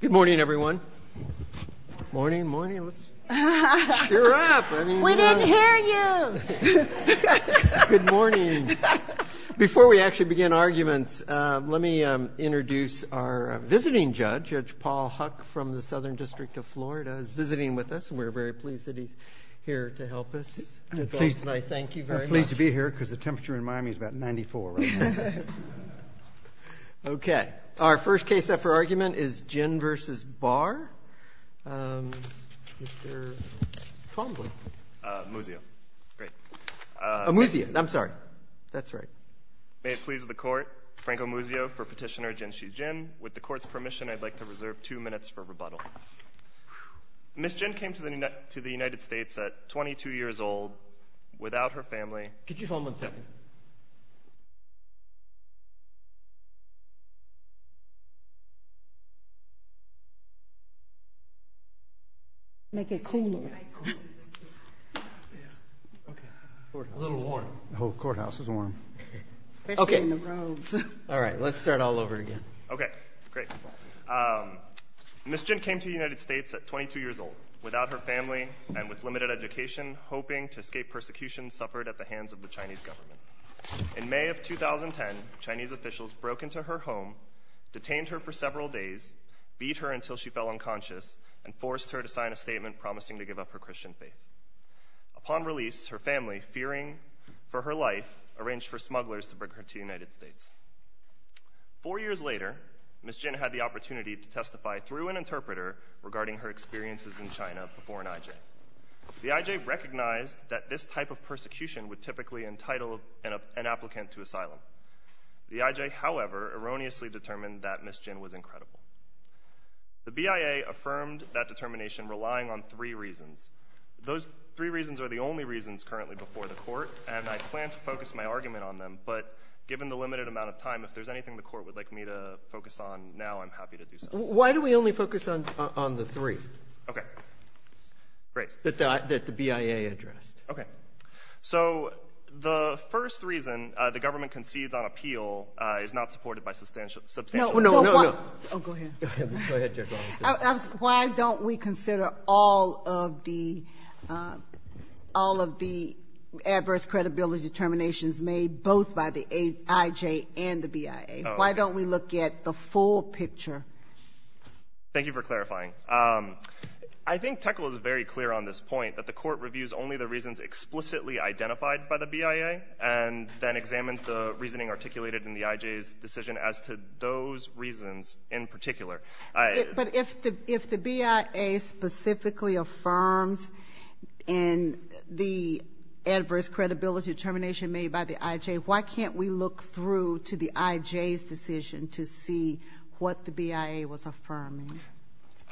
Good morning, everyone. Morning, morning. Let's cheer up. We didn't hear you. Good morning. Before we actually begin arguments, let me introduce our visiting judge. Judge Paul Huck from the Southern District of Florida is visiting with us. We're very pleased that he's here to help us. I'm pleased to be here because the temperature in Miami is about 94. Okay. Our first case up for argument is Jin v. Barr. Mr. Combley. Muzio. Great. Muzio. I'm sorry. That's right. May it please the court. Franco Muzio for petitioner Jinshi Jin. With the court's permission, I'd like to reserve two minutes for rebuttal. Ms. Jin came to the United States at 22 years old without her family. Could you hold on a second? Make it cooler. A little warm. The whole courthouse is warm. Especially in the robes. All right. Let's start all over again. Okay. Great. Ms. Jin came to the United States at 22 years old without her family and with limited education, hoping to escape persecution suffered at the hands of the Chinese government. In May of 2010, Chinese officials broke into her home, detained her for several days, beat her until she fell unconscious, and forced her to sign a statement promising to give up her Christian faith. Upon release, her family, fearing for her life, arranged for smugglers to bring her to the United States. Four years later, Ms. Jin had the opportunity to testify through an interpreter regarding her experiences in China before an IJ. The IJ recognized that this type of persecution would typically entitle an applicant to asylum. The IJ, however, erroneously determined that Ms. Jin was incredible. The BIA affirmed that determination relying on three reasons. Those three reasons are the only reasons currently before the court, and I plan to focus my argument on them, but given the limited amount of time, if there's anything the court would like me to focus on now, I'm happy to do so. Why do we only focus on the three? Okay. Great. That the BIA addressed. Okay. So the first reason the government concedes on appeal is not supported by substantial evidence. No, no, no. Oh, go ahead. Go ahead, Judge Robinson. Why don't we consider all of the adverse credibility determinations made both by the IJ and the BIA? Why don't we look at the full picture? Thank you for clarifying. I think Tekel is very clear on this point, that the court reviews only the reasons explicitly identified by the BIA and then examines the reasoning articulated in the IJ's decision as to those reasons in particular. But if the BIA specifically affirms in the adverse credibility determination made by the IJ, why can't we look through to the IJ's decision to see what the BIA was affirming?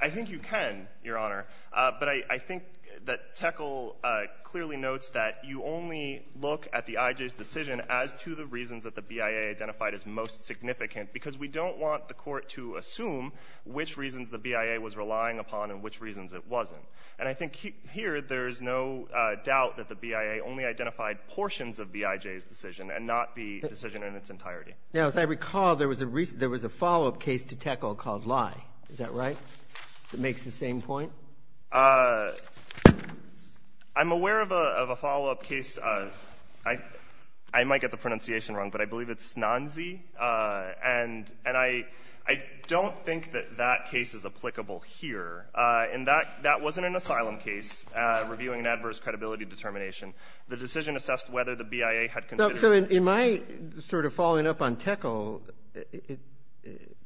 I think you can, Your Honor. But I think that Tekel clearly notes that you only look at the IJ's decision as to the reasons that the BIA identified as most significant because we don't want the court to assume which reasons the BIA was relying upon and which reasons it wasn't. And I think here there is no doubt that the BIA only identified portions of the IJ's decision and not the decision in its entirety. Now, as I recall, there was a follow-up case to Tekel called Lye. Is that right? It makes the same point? I'm aware of a follow-up case. I might get the pronunciation wrong, but I believe it's Nanzi. And I don't think that that case is applicable here. And that wasn't an asylum case reviewing an adverse credibility determination. The decision assessed whether the BIA had considered it. So in my sort of following up on Tekel,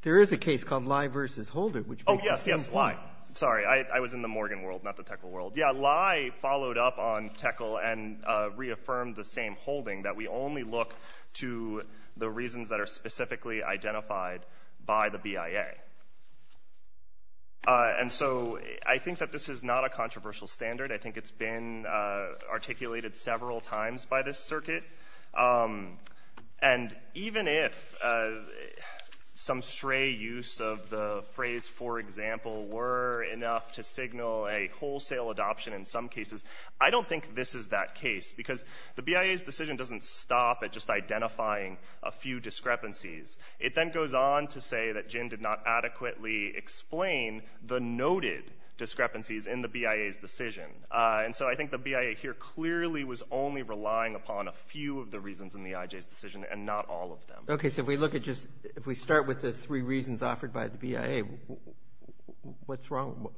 there is a case called Lye v. Holder, which makes the same point. Oh, yes, yes, Lye. Sorry, I was in the Morgan world, not the Tekel world. Yeah, Lye followed up on Tekel and reaffirmed the same holding, that we only look to the reasons that are specifically identified by the BIA. And so I think that this is not a controversial standard. I think it's been articulated several times by this circuit. And even if some stray use of the phrase, for example, were enough to signal a wholesale adoption in some cases, I don't think this is that case. Because the BIA's decision doesn't stop at just identifying a few discrepancies. It then goes on to say that Jin did not adequately explain the noted discrepancies in the BIA's decision. And so I think the BIA here clearly was only relying upon a few of the reasons in the IJ's decision and not all of them. Okay, so if we start with the three reasons offered by the BIA, what's wrong?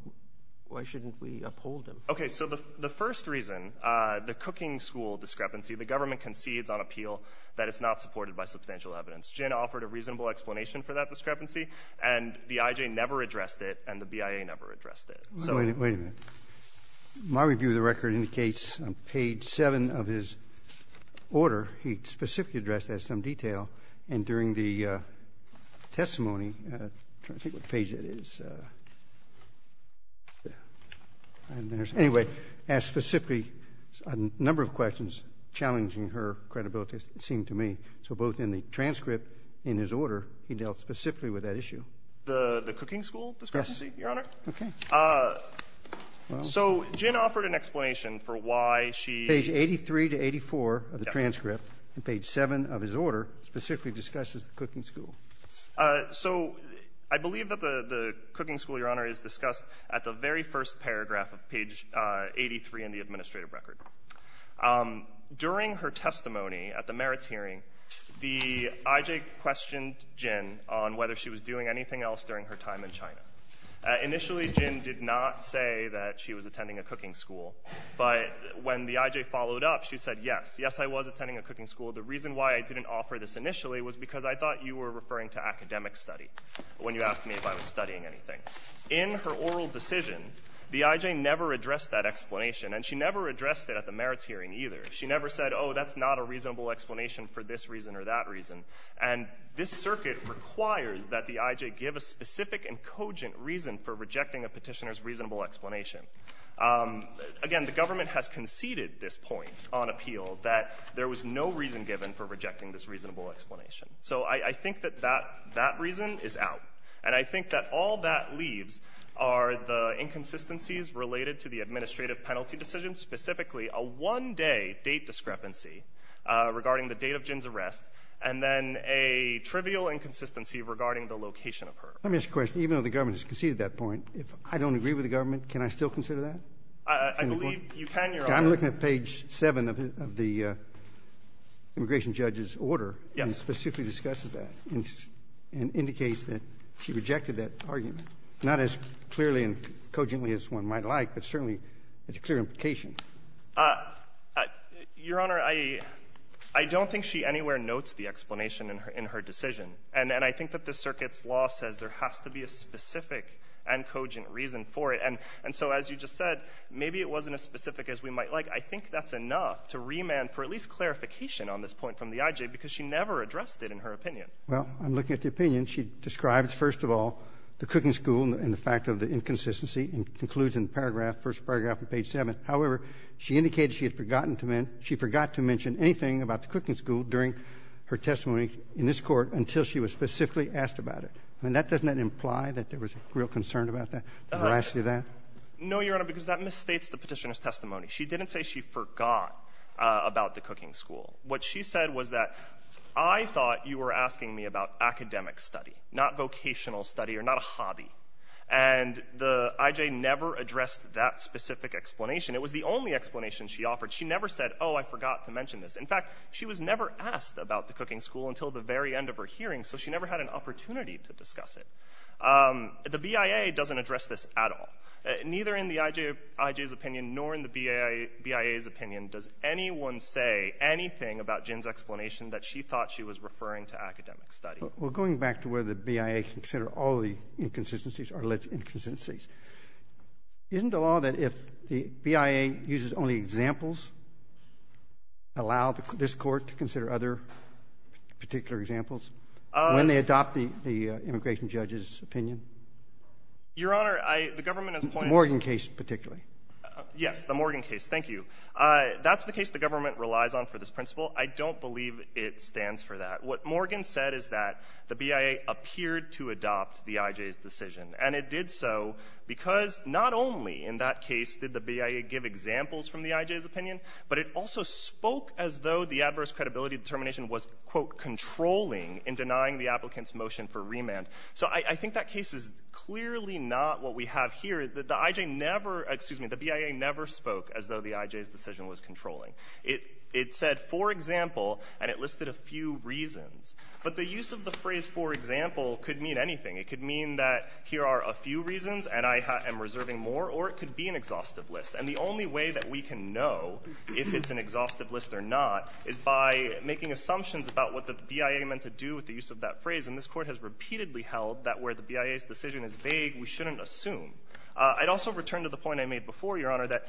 Why shouldn't we uphold them? Okay, so the first reason, the cooking school discrepancy, the government concedes on appeal that it's not supported by substantial evidence. Jin offered a reasonable explanation for that discrepancy, and the IJ never addressed it, and the BIA never addressed it. Wait a minute. My review of the record indicates on page seven of his order, he specifically addressed that in some detail. And during the testimony, I'm trying to think what page that is. Anyway, asked specifically a number of questions challenging her credibility, it seemed to me. So both in the transcript and his order, he dealt specifically with that issue. The cooking school discrepancy, Your Honor? Okay. So Jin offered an explanation for why she — Page 83 to 84 of the transcript and page seven of his order specifically discusses the cooking school. So I believe that the cooking school, Your Honor, is discussed at the very first paragraph of page 83 in the administrative record. During her testimony at the merits hearing, the IJ questioned Jin on whether she was doing anything else during her time in China. Initially, Jin did not say that she was attending a cooking school. But when the IJ followed up, she said, yes, yes, I was attending a cooking school. The reason why I didn't offer this initially was because I thought you were referring to academic study when you asked me if I was studying anything. In her oral decision, the IJ never addressed that explanation, and she never addressed it at the merits hearing either. She never said, oh, that's not a reasonable explanation for this reason or that reason. And this circuit requires that the IJ give a specific and cogent reason for rejecting a petitioner's reasonable explanation. Again, the government has conceded this point on appeal, that there was no reason given for rejecting this reasonable explanation. So I think that that reason is out. And I think that all that leaves are the inconsistencies related to the administrative penalty decision, specifically a one-day date discrepancy regarding the date of Jin's arrest and then a trivial inconsistency regarding the location of her arrest. Let me ask a question. Even though the government has conceded that point, if I don't agree with the government, can I still consider that? I believe you can, Your Honor. I'm looking at page 7 of the immigration judge's order. Yes. And it specifically discusses that and indicates that she rejected that argument, not as clearly and cogently as one might like, but certainly it's a clear implication. Your Honor, I don't think she anywhere notes the explanation in her decision. And I think that this circuit's law says there has to be a specific and cogent reason for it. And so as you just said, maybe it wasn't as specific as we might like. I think that's enough to remand for at least clarification on this point from the IJ because she never addressed it in her opinion. Well, I'm looking at the opinion. She describes, first of all, the cooking school and the fact of the inconsistency and concludes in the paragraph, first paragraph of page 7. However, she indicated she had forgotten to mention anything about the cooking school during her testimony in this court until she was specifically asked about it. I mean, doesn't that imply that there was real concern about the veracity of that? No, Your Honor, because that misstates the Petitioner's testimony. She didn't say she forgot about the cooking school. What she said was that, I thought you were asking me about academic study, not vocational study or not a hobby. And the IJ never addressed that specific explanation. It was the only explanation she offered. She never said, oh, I forgot to mention this. In fact, she was never asked about the cooking school until the very end of her hearing, so she never had an opportunity to discuss it. The BIA doesn't address this at all. Neither in the IJ's opinion nor in the BIA's opinion does anyone say anything about Jen's explanation that she thought she was referring to academic study. Well, going back to where the BIA considered all the inconsistencies are alleged inconsistencies, isn't the law that if the BIA uses only examples, allow this court to consider other particular examples when they adopt the immigration judge's opinion? Your Honor, the government has pointed to— The Morgan case, particularly. Yes, the Morgan case. Thank you. That's the case the government relies on for this principle. I don't believe it stands for that. What Morgan said is that the BIA appeared to adopt the IJ's decision. And it did so because not only in that case did the BIA give examples from the IJ's opinion, but it also spoke as though the adverse credibility determination was, quote, controlling in denying the applicant's motion for remand. So I think that case is clearly not what we have here. The IJ never—excuse me, the BIA never spoke as though the IJ's decision was controlling. It said, for example, and it listed a few reasons. But the use of the phrase, for example, could mean anything. It could mean that here are a few reasons and I am reserving more, or it could be an exhaustive list. And the only way that we can know if it's an exhaustive list or not is by making assumptions about what the BIA meant to do with the use of that phrase. And this Court has repeatedly held that where the BIA's decision is vague, we shouldn't assume. I'd also return to the point I made before, Your Honor, that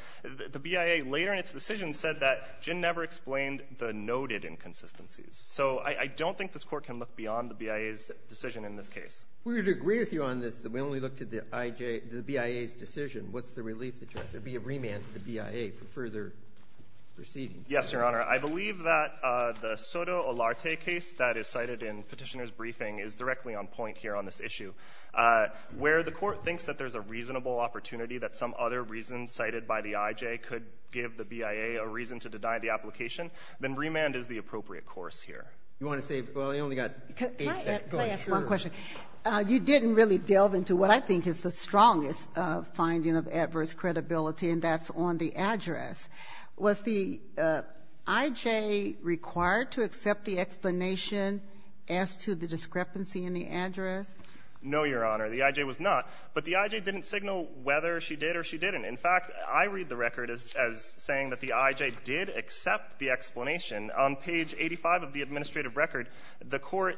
the BIA later in its decision said that Jin never explained the noted inconsistencies. So I don't think this Court can look beyond the BIA's decision in this case. We would agree with you on this, that we only looked at the BIA's decision. What's the relief that you ask? There would be a remand to the BIA for further proceedings. Yes, Your Honor. I believe that the Soto Olarte case that is cited in Petitioner's briefing is directly on point here on this issue. Where the Court thinks that there's a reasonable opportunity that some other reason cited by the IJ could give the BIA a reason to deny the application, then remand is the appropriate course here. You want to say? Well, you only got eight seconds. Can I ask one question? You didn't really delve into what I think is the strongest finding of adverse credibility, and that's on the address. Was the IJ required to accept the explanation as to the discrepancy in the address? No, Your Honor. The IJ was not. But the IJ didn't signal whether she did or she didn't. In fact, I read the record as saying that the IJ did accept the explanation. On page 85 of the administrative record, the Court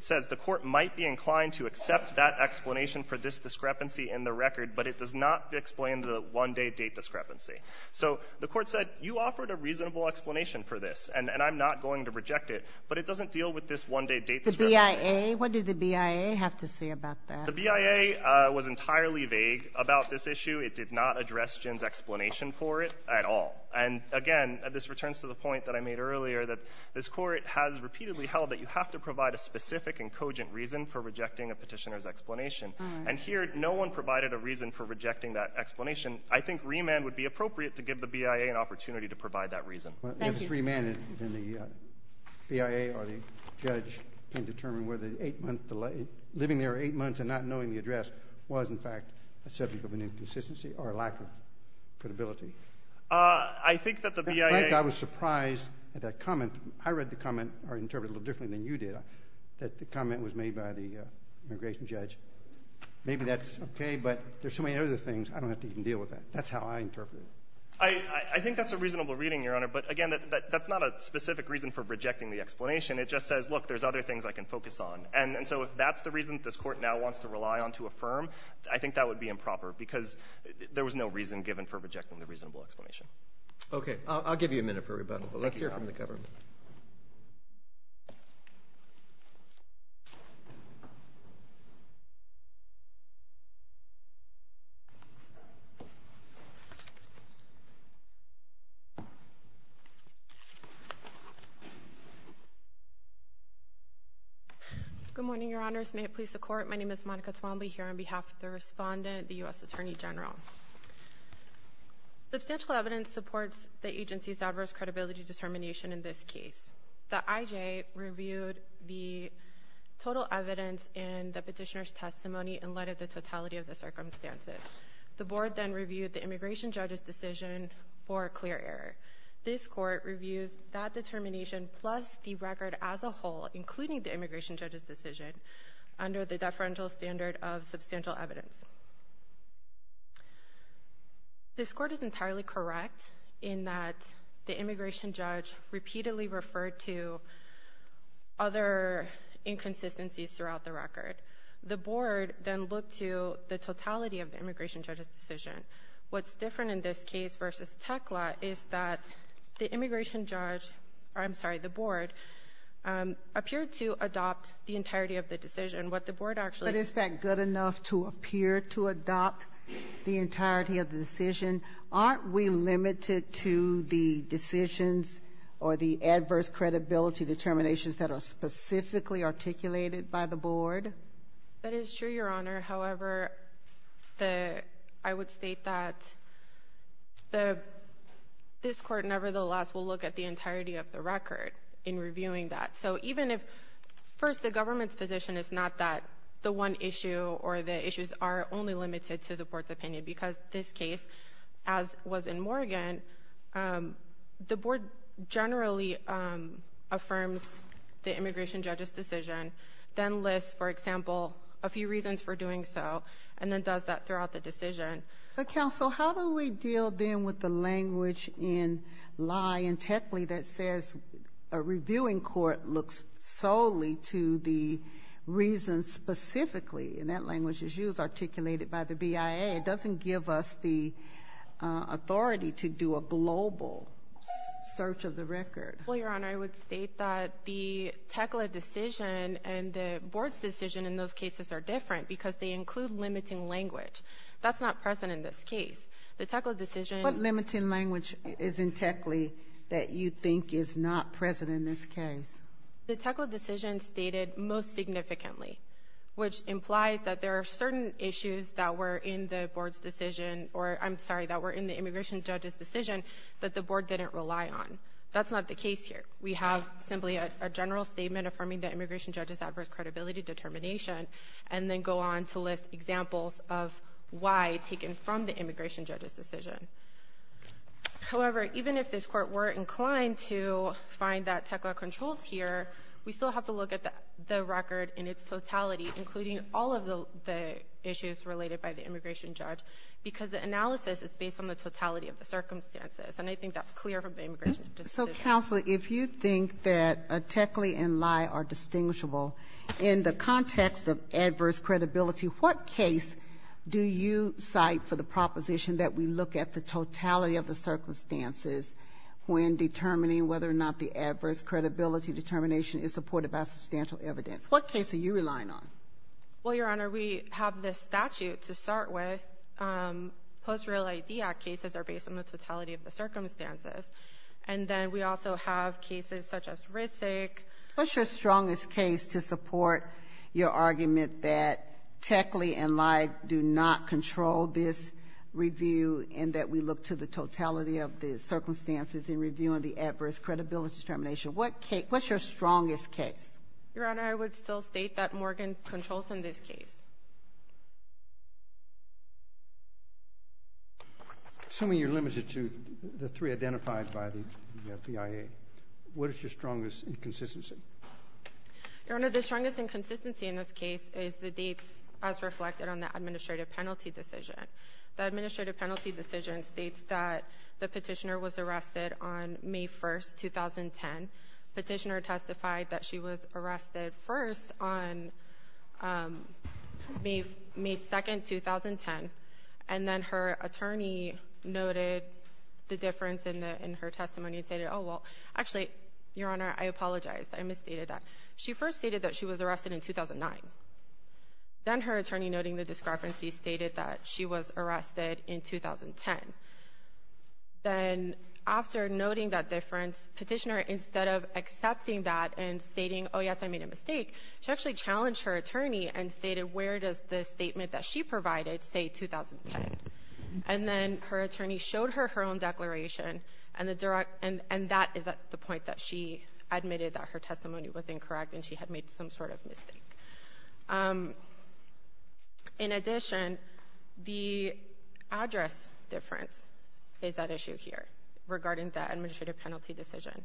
says the Court might be inclined to accept that explanation for this discrepancy in the record, but it does not explain the one-day date discrepancy. So the Court said, you offered a reasonable explanation for this, and I'm not going to reject it, but it doesn't deal with this one-day date discrepancy. The BIA? What did the BIA have to say about that? The BIA was entirely vague about this issue. It did not address Jin's explanation for it at all. And, again, this returns to the point that I made earlier, that this Court has repeatedly held that you have to provide a specific and cogent reason for rejecting a petitioner's explanation. And here, no one provided a reason for rejecting that explanation. I think remand would be appropriate to give the BIA an opportunity to provide that reason. If it's remand, then the BIA or the judge can determine whether living there eight months and not knowing the address was, in fact, a subject of an inconsistency or a lack of credibility. I think that the BIA In fact, I was surprised at that comment. I read the comment or interpreted it a little differently than you did, that the comment was made by the immigration judge. Maybe that's okay, but there are so many other things. I don't have to even deal with that. That's how I interpreted it. I think that's a reasonable reading, Your Honor. But, again, that's not a specific reason for rejecting the explanation. It just says, look, there are other things I can focus on. And so if that's the reason this Court now wants to rely on to affirm, I think that would be improper because there was no reason given for rejecting the reasonable explanation. Okay. I'll give you a minute for rebuttal, but let's hear from the government. Thank you, Your Honor. Good morning, Your Honors. May it please the Court, my name is Monica Twombly, here on behalf of the respondent, the U.S. Attorney General. Substantial evidence supports the agency's adverse credibility determination in this case. The IJ reviewed the total evidence in the petitioner's testimony in light of the totality of the circumstances. The Board then reviewed the immigration judge's decision for a clear error. This Court reviews that determination plus the record as a whole, including the immigration judge's decision, under the deferential standard of substantial evidence. This Court is entirely correct in that the immigration judge repeatedly referred to other inconsistencies throughout the record. The Board then looked to the totality of the immigration judge's decision. What's different in this case versus Tekla is that the immigration judge, I'm sorry, the Board, appeared to adopt the entirety of the decision. But is that good enough to appear to adopt the entirety of the decision? Aren't we limited to the decisions or the adverse credibility determinations that are specifically articulated by the Board? That is true, Your Honor. However, I would state that this Court nevertheless will look at the entirety of the record in reviewing that. So even if first the government's position is not that the one issue or the issues are only limited to the Board's opinion, because this case, as was in Morgan, the Board generally affirms the immigration judge's decision, then lists, for example, a few reasons for doing so, and then does that throughout the decision. But, Counsel, how do we deal then with the language in Lye and Tekla that says a reviewing court looks solely to the reasons specifically? And that language is used articulated by the BIA. It doesn't give us the authority to do a global search of the record. Well, Your Honor, I would state that the Tekla decision and the Board's decision in those cases are different because they include limiting language. That's not present in this case. The Tekla decision— What limiting language is in Tekla that you think is not present in this case? The Tekla decision stated most significantly, which implies that there are certain issues that were in the Board's decision— or, I'm sorry, that were in the immigration judge's decision that the Board didn't rely on. That's not the case here. We have simply a general statement affirming the immigration judge's adverse credibility determination and then go on to list examples of why taken from the immigration judge's decision. However, even if this Court were inclined to find that Tekla controls here, we still have to look at the record in its totality, including all of the issues related by the immigration judge, because the analysis is based on the totality of the circumstances, and I think that's clear from the immigration judge's decision. So, Counsel, if you think that Tekla and Lye are distinguishable in the context of adverse credibility, what case do you cite for the proposition that we look at the totality of the circumstances when determining whether or not the adverse credibility determination is supported by substantial evidence? What case are you relying on? Well, Your Honor, we have this statute to start with. Post-Real ID Act cases are based on the totality of the circumstances, and then we also have cases such as RISC. What's your strongest case to support your argument that Tekla and Lye do not control this review and that we look to the totality of the circumstances in reviewing the adverse credibility determination? What's your strongest case? Your Honor, I would still state that Morgan controls in this case. Assuming you're limited to the three identified by the BIA, what is your strongest inconsistency? Your Honor, the strongest inconsistency in this case is the dates as reflected on the administrative penalty decision. The administrative penalty decision states that the petitioner was arrested on May 1, 2010. Petitioner testified that she was arrested first on May 2, 2010, and then her attorney noted the difference in her testimony and stated, oh, well, actually, Your Honor, I apologize. I misstated that. She first stated that she was arrested in 2009. Then her attorney, noting the discrepancy, stated that she was arrested in 2010. Then after noting that difference, petitioner, instead of accepting that and stating, oh, yes, I made a mistake, she actually challenged her attorney and stated, where does the statement that she provided say 2010? And then her attorney showed her her own declaration, and that is the point that she admitted that her testimony was incorrect and she had made some sort of mistake. In addition, the address difference is at issue here regarding the administrative penalty decision.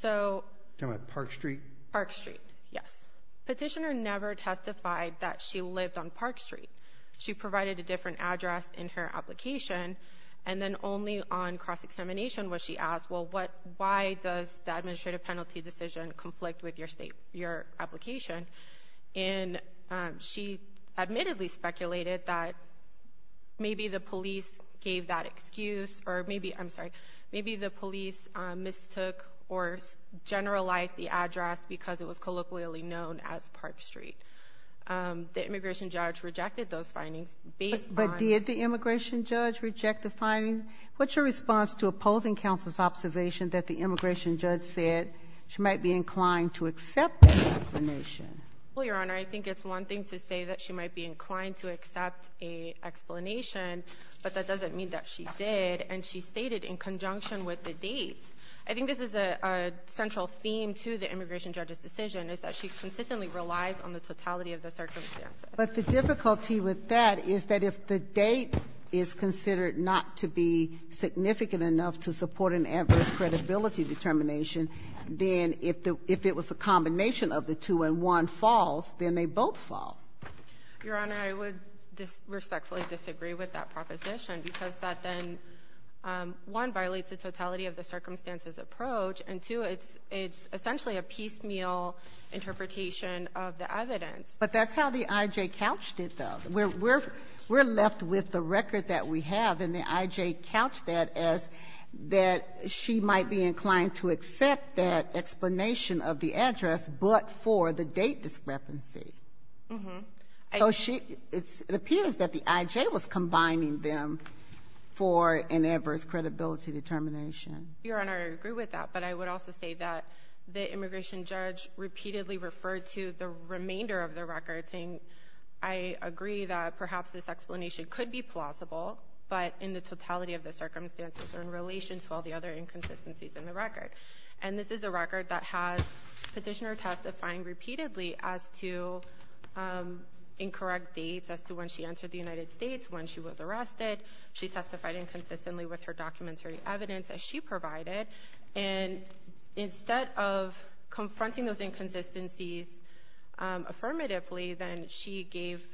So, Do you mean Park Street? Park Street, yes. Petitioner never testified that she lived on Park Street. She provided a different address in her application, and then only on cross-examination was she asked, well, why does the administrative penalty decision conflict with your application? And she admittedly speculated that maybe the police gave that excuse or maybe, I'm sorry, maybe the police mistook or generalized the address because it was colloquially known as Park Street. The immigration judge rejected those findings based on But did the immigration judge reject the findings? What's your response to opposing counsel's observation that the immigration judge said she might be inclined to accept an explanation? Well, Your Honor, I think it's one thing to say that she might be inclined to accept an explanation, but that doesn't mean that she did, and she stated in conjunction with the dates. I think this is a central theme to the immigration judge's decision, is that she consistently relies on the totality of the circumstances. But the difficulty with that is that if the date is considered not to be significant enough to support an adverse credibility determination, then if it was a combination of the two and one false, then they both fall. Your Honor, I would respectfully disagree with that proposition because that then, one, violates the totality of the circumstances approach, and two, it's essentially a piecemeal interpretation of the evidence. But that's how the IJ couched it, though. We're left with the record that we have, and the IJ couched that as that she might be inclined to accept that explanation of the address, but for the date discrepancy. Mm-hmm. So it appears that the IJ was combining them for an adverse credibility determination. Your Honor, I agree with that. But I would also say that the immigration judge repeatedly referred to the remainder of the record saying, I agree that perhaps this explanation could be plausible, but in the totality of the circumstances or in relation to all the other inconsistencies in the record. And this is a record that has petitioner testifying repeatedly as to incorrect dates, as to when she entered the United States, when she was arrested. She testified inconsistently with her documentary evidence that she provided. And instead of confronting those inconsistencies affirmatively, then she gave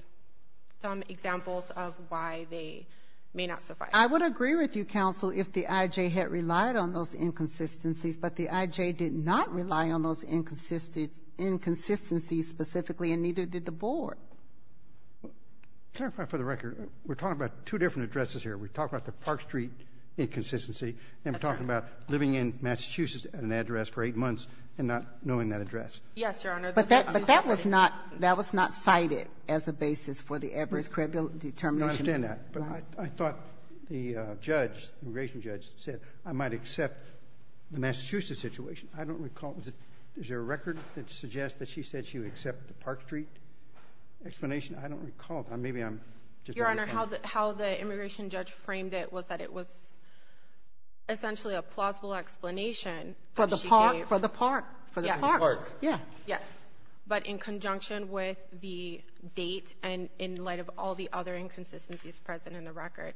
some examples of why they may not suffice. I would agree with you, counsel, if the IJ had relied on those inconsistencies, but the IJ did not rely on those inconsistencies specifically, and neither did the board. Your Honor, for the record, we're talking about two different addresses here. We're talking about the Park Street inconsistency, and we're talking about living in Massachusetts at an address for eight months and not knowing that address. Yes, Your Honor. But that was not cited as a basis for the adverse credibility determination. I understand that. But I thought the immigration judge said, I might accept the Massachusetts situation. I don't recall. Is there a record that suggests that she said she would accept the Park Street explanation? I don't recall. Your Honor, how the immigration judge framed it was that it was essentially a plausible explanation. For the park? For the park. Yes. But in conjunction with the date and in light of all the other inconsistencies present in the record.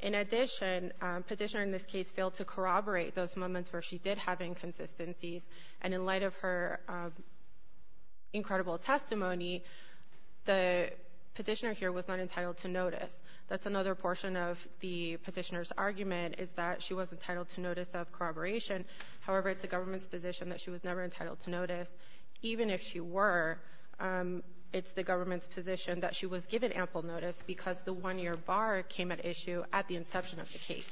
In addition, petitioner in this case failed to corroborate those moments where she did have inconsistencies. And in light of her incredible testimony, the petitioner here was not entitled to notice. That's another portion of the petitioner's argument is that she was entitled to notice of corroboration. However, it's the government's position that she was never entitled to notice. Even if she were, it's the government's position that she was given ample notice because the one-year bar came at issue at the inception of the case.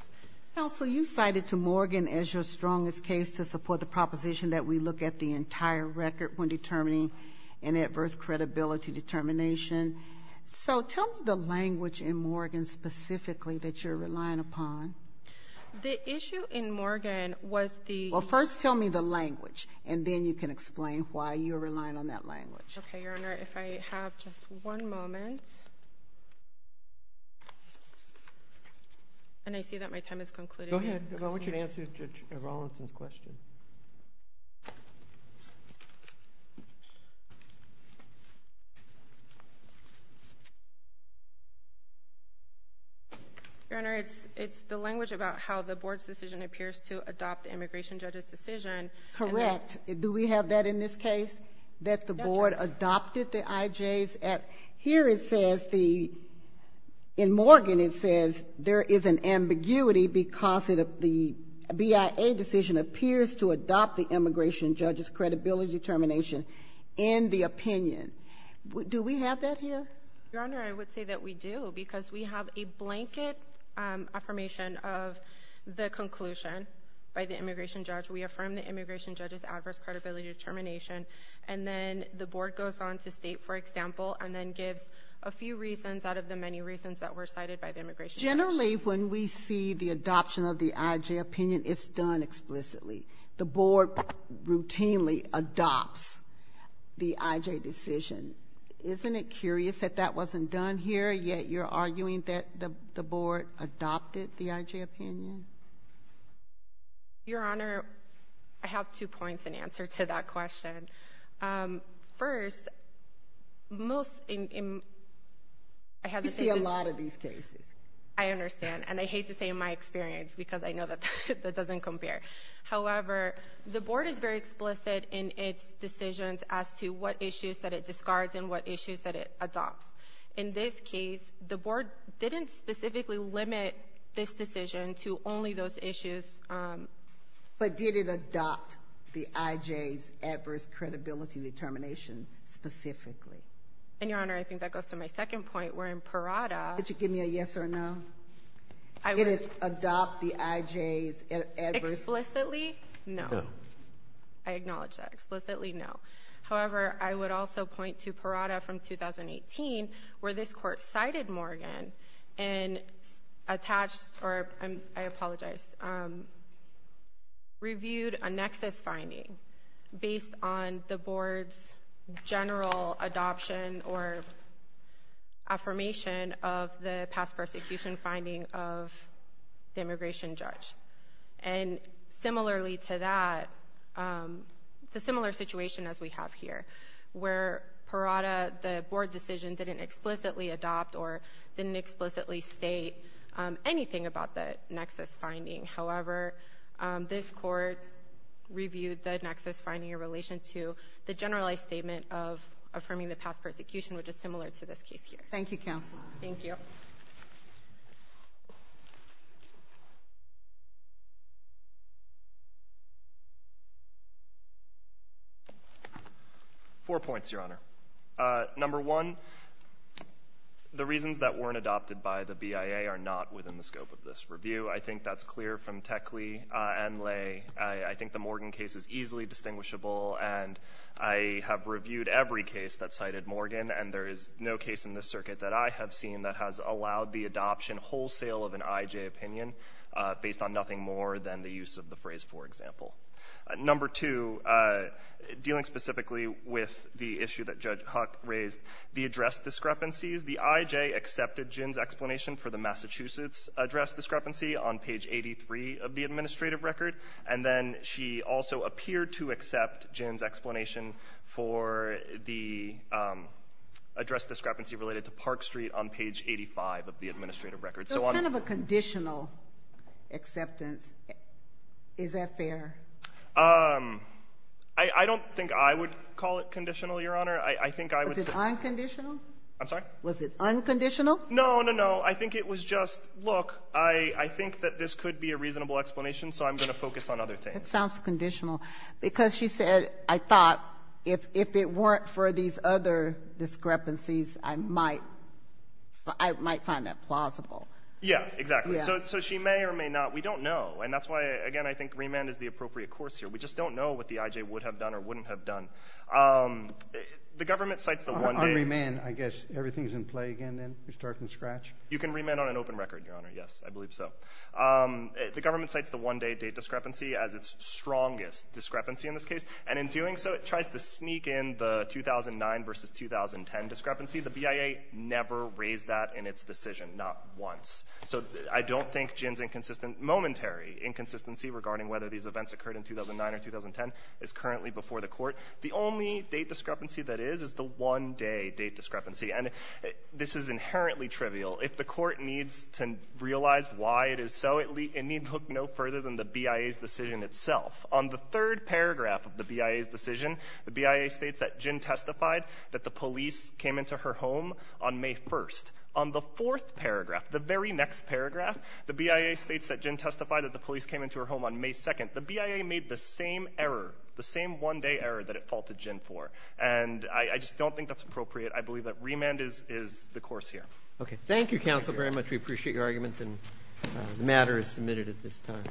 Counsel, you cited to Morgan as your strongest case to support the proposition that we look at the entire record when determining an adverse credibility determination. So, tell me the language in Morgan specifically that you're relying upon. The issue in Morgan was the... Well, first tell me the language and then you can explain why you're relying on that language. Okay, Your Honor. If I have just one moment. And I see that my time has concluded. Go ahead. I want you to answer Judge Rawlinson's question. Your Honor, it's the language about how the board's decision appears to adopt the immigration judge's decision. Correct. Do we have that in this case? That the board adopted the IJ's at... In Morgan it says there is an ambiguity because the BIA decision appears to adopt the immigration judge's credibility determination and the opinion. Do we have that here? Your Honor, I would say that we do because we have a blanket affirmation of the conclusion by the immigration judge. We affirm the immigration judge's adverse credibility determination and then the board goes on to state, for example, and then gives a few reasons out of the many reasons that were cited by the immigration judge. Generally, when we see the adoption of the IJ opinion, it's done explicitly. The board routinely adopts the IJ decision. Isn't it curious that that wasn't done here, yet you're arguing that the board adopted the IJ opinion? Your Honor, I have two points in answer to that question. First, most... You see a lot of these cases. I understand, and I hate to say in my experience because I know that doesn't compare. However, the board is very explicit in its decisions as to what issues that it discards and what issues that it adopts. In this case, the board didn't specifically limit this decision to only those issues. But did it adopt the IJ's adverse credibility determination specifically? Your Honor, I think that goes to my second point, where in Parada... Could you give me a yes or a no? Did it adopt the IJ's adverse... Explicitly, no. I acknowledge that. Explicitly, no. However, I would also point to Parada from 2018, where this court cited Morgan and attached... I apologize. Reviewed a nexus finding based on the board's general adoption or affirmation of the past persecution finding of the immigration judge. And similarly to that, it's a similar situation as we have here, where Parada, the board decision, didn't explicitly adopt or didn't explicitly state anything about the nexus finding. However, this court reviewed the nexus finding in relation to the generalized statement of affirming the past persecution, which is similar to this case here. Thank you, counsel. Thank you. Four points, Your Honor. Number one, the reasons that weren't adopted by the BIA are not within the scope of this review. I think that's clear from Techley and Lay. I think the Morgan case is easily distinguishable, and I have reviewed every case that cited Morgan, and there is no case in this circuit that I have seen that has allowed the adoption wholesale of an IJ opinion... Based on nothing more than the use of the phrase, for example. Number two, dealing specifically with the issue that Judge Huck raised, the address discrepancies, the IJ accepted Jin's explanation for the Massachusetts address discrepancy on page 83 of the administrative record. And then she also appeared to accept Jin's explanation for the address discrepancy related to Park Street on page 85 of the administrative record. So it's kind of a conditional acceptance. Is that fair? I don't think I would call it conditional, Your Honor. I think I would say... Was it unconditional? I'm sorry? Was it unconditional? No, no, no. I think it was just, look, I think that this could be a reasonable explanation, so I'm going to focus on other things. It sounds conditional because she said, I thought, if it weren't for these other discrepancies, I might find that plausible. Yeah, exactly. So she may or may not. We don't know, and that's why, again, I think remand is the appropriate course here. We just don't know what the IJ would have done or wouldn't have done. The government cites the one-day... On remand, I guess everything is in play again, then? You're starting to scratch? You can remand on an open record, Your Honor, yes, I believe so. The government cites the one-day date discrepancy as its strongest discrepancy in this case, and in doing so, it tries to sneak in the 2009 versus 2010 discrepancy. The BIA never raised that in its decision, not once. So I don't think Jin's inconsistent, momentary inconsistency regarding whether these events occurred in 2009 or 2010 is currently before the court. The only date discrepancy that is is the one-day date discrepancy, and this is inherently trivial. If the court needs to realize why it is so, it needs to look no further than the BIA's decision itself. On the third paragraph of the BIA's decision, the BIA states that Jin testified that the police came into her home on May 1st. On the fourth paragraph, the very next paragraph, the BIA states that Jin testified that the police came into her home on May 2nd. The BIA made the same error, the same one-day error that it faulted Jin for, and I just don't think that's appropriate. I believe that remand is the course here. Okay, thank you, counsel, very much. We appreciate your arguments, and the matter is submitted at this time.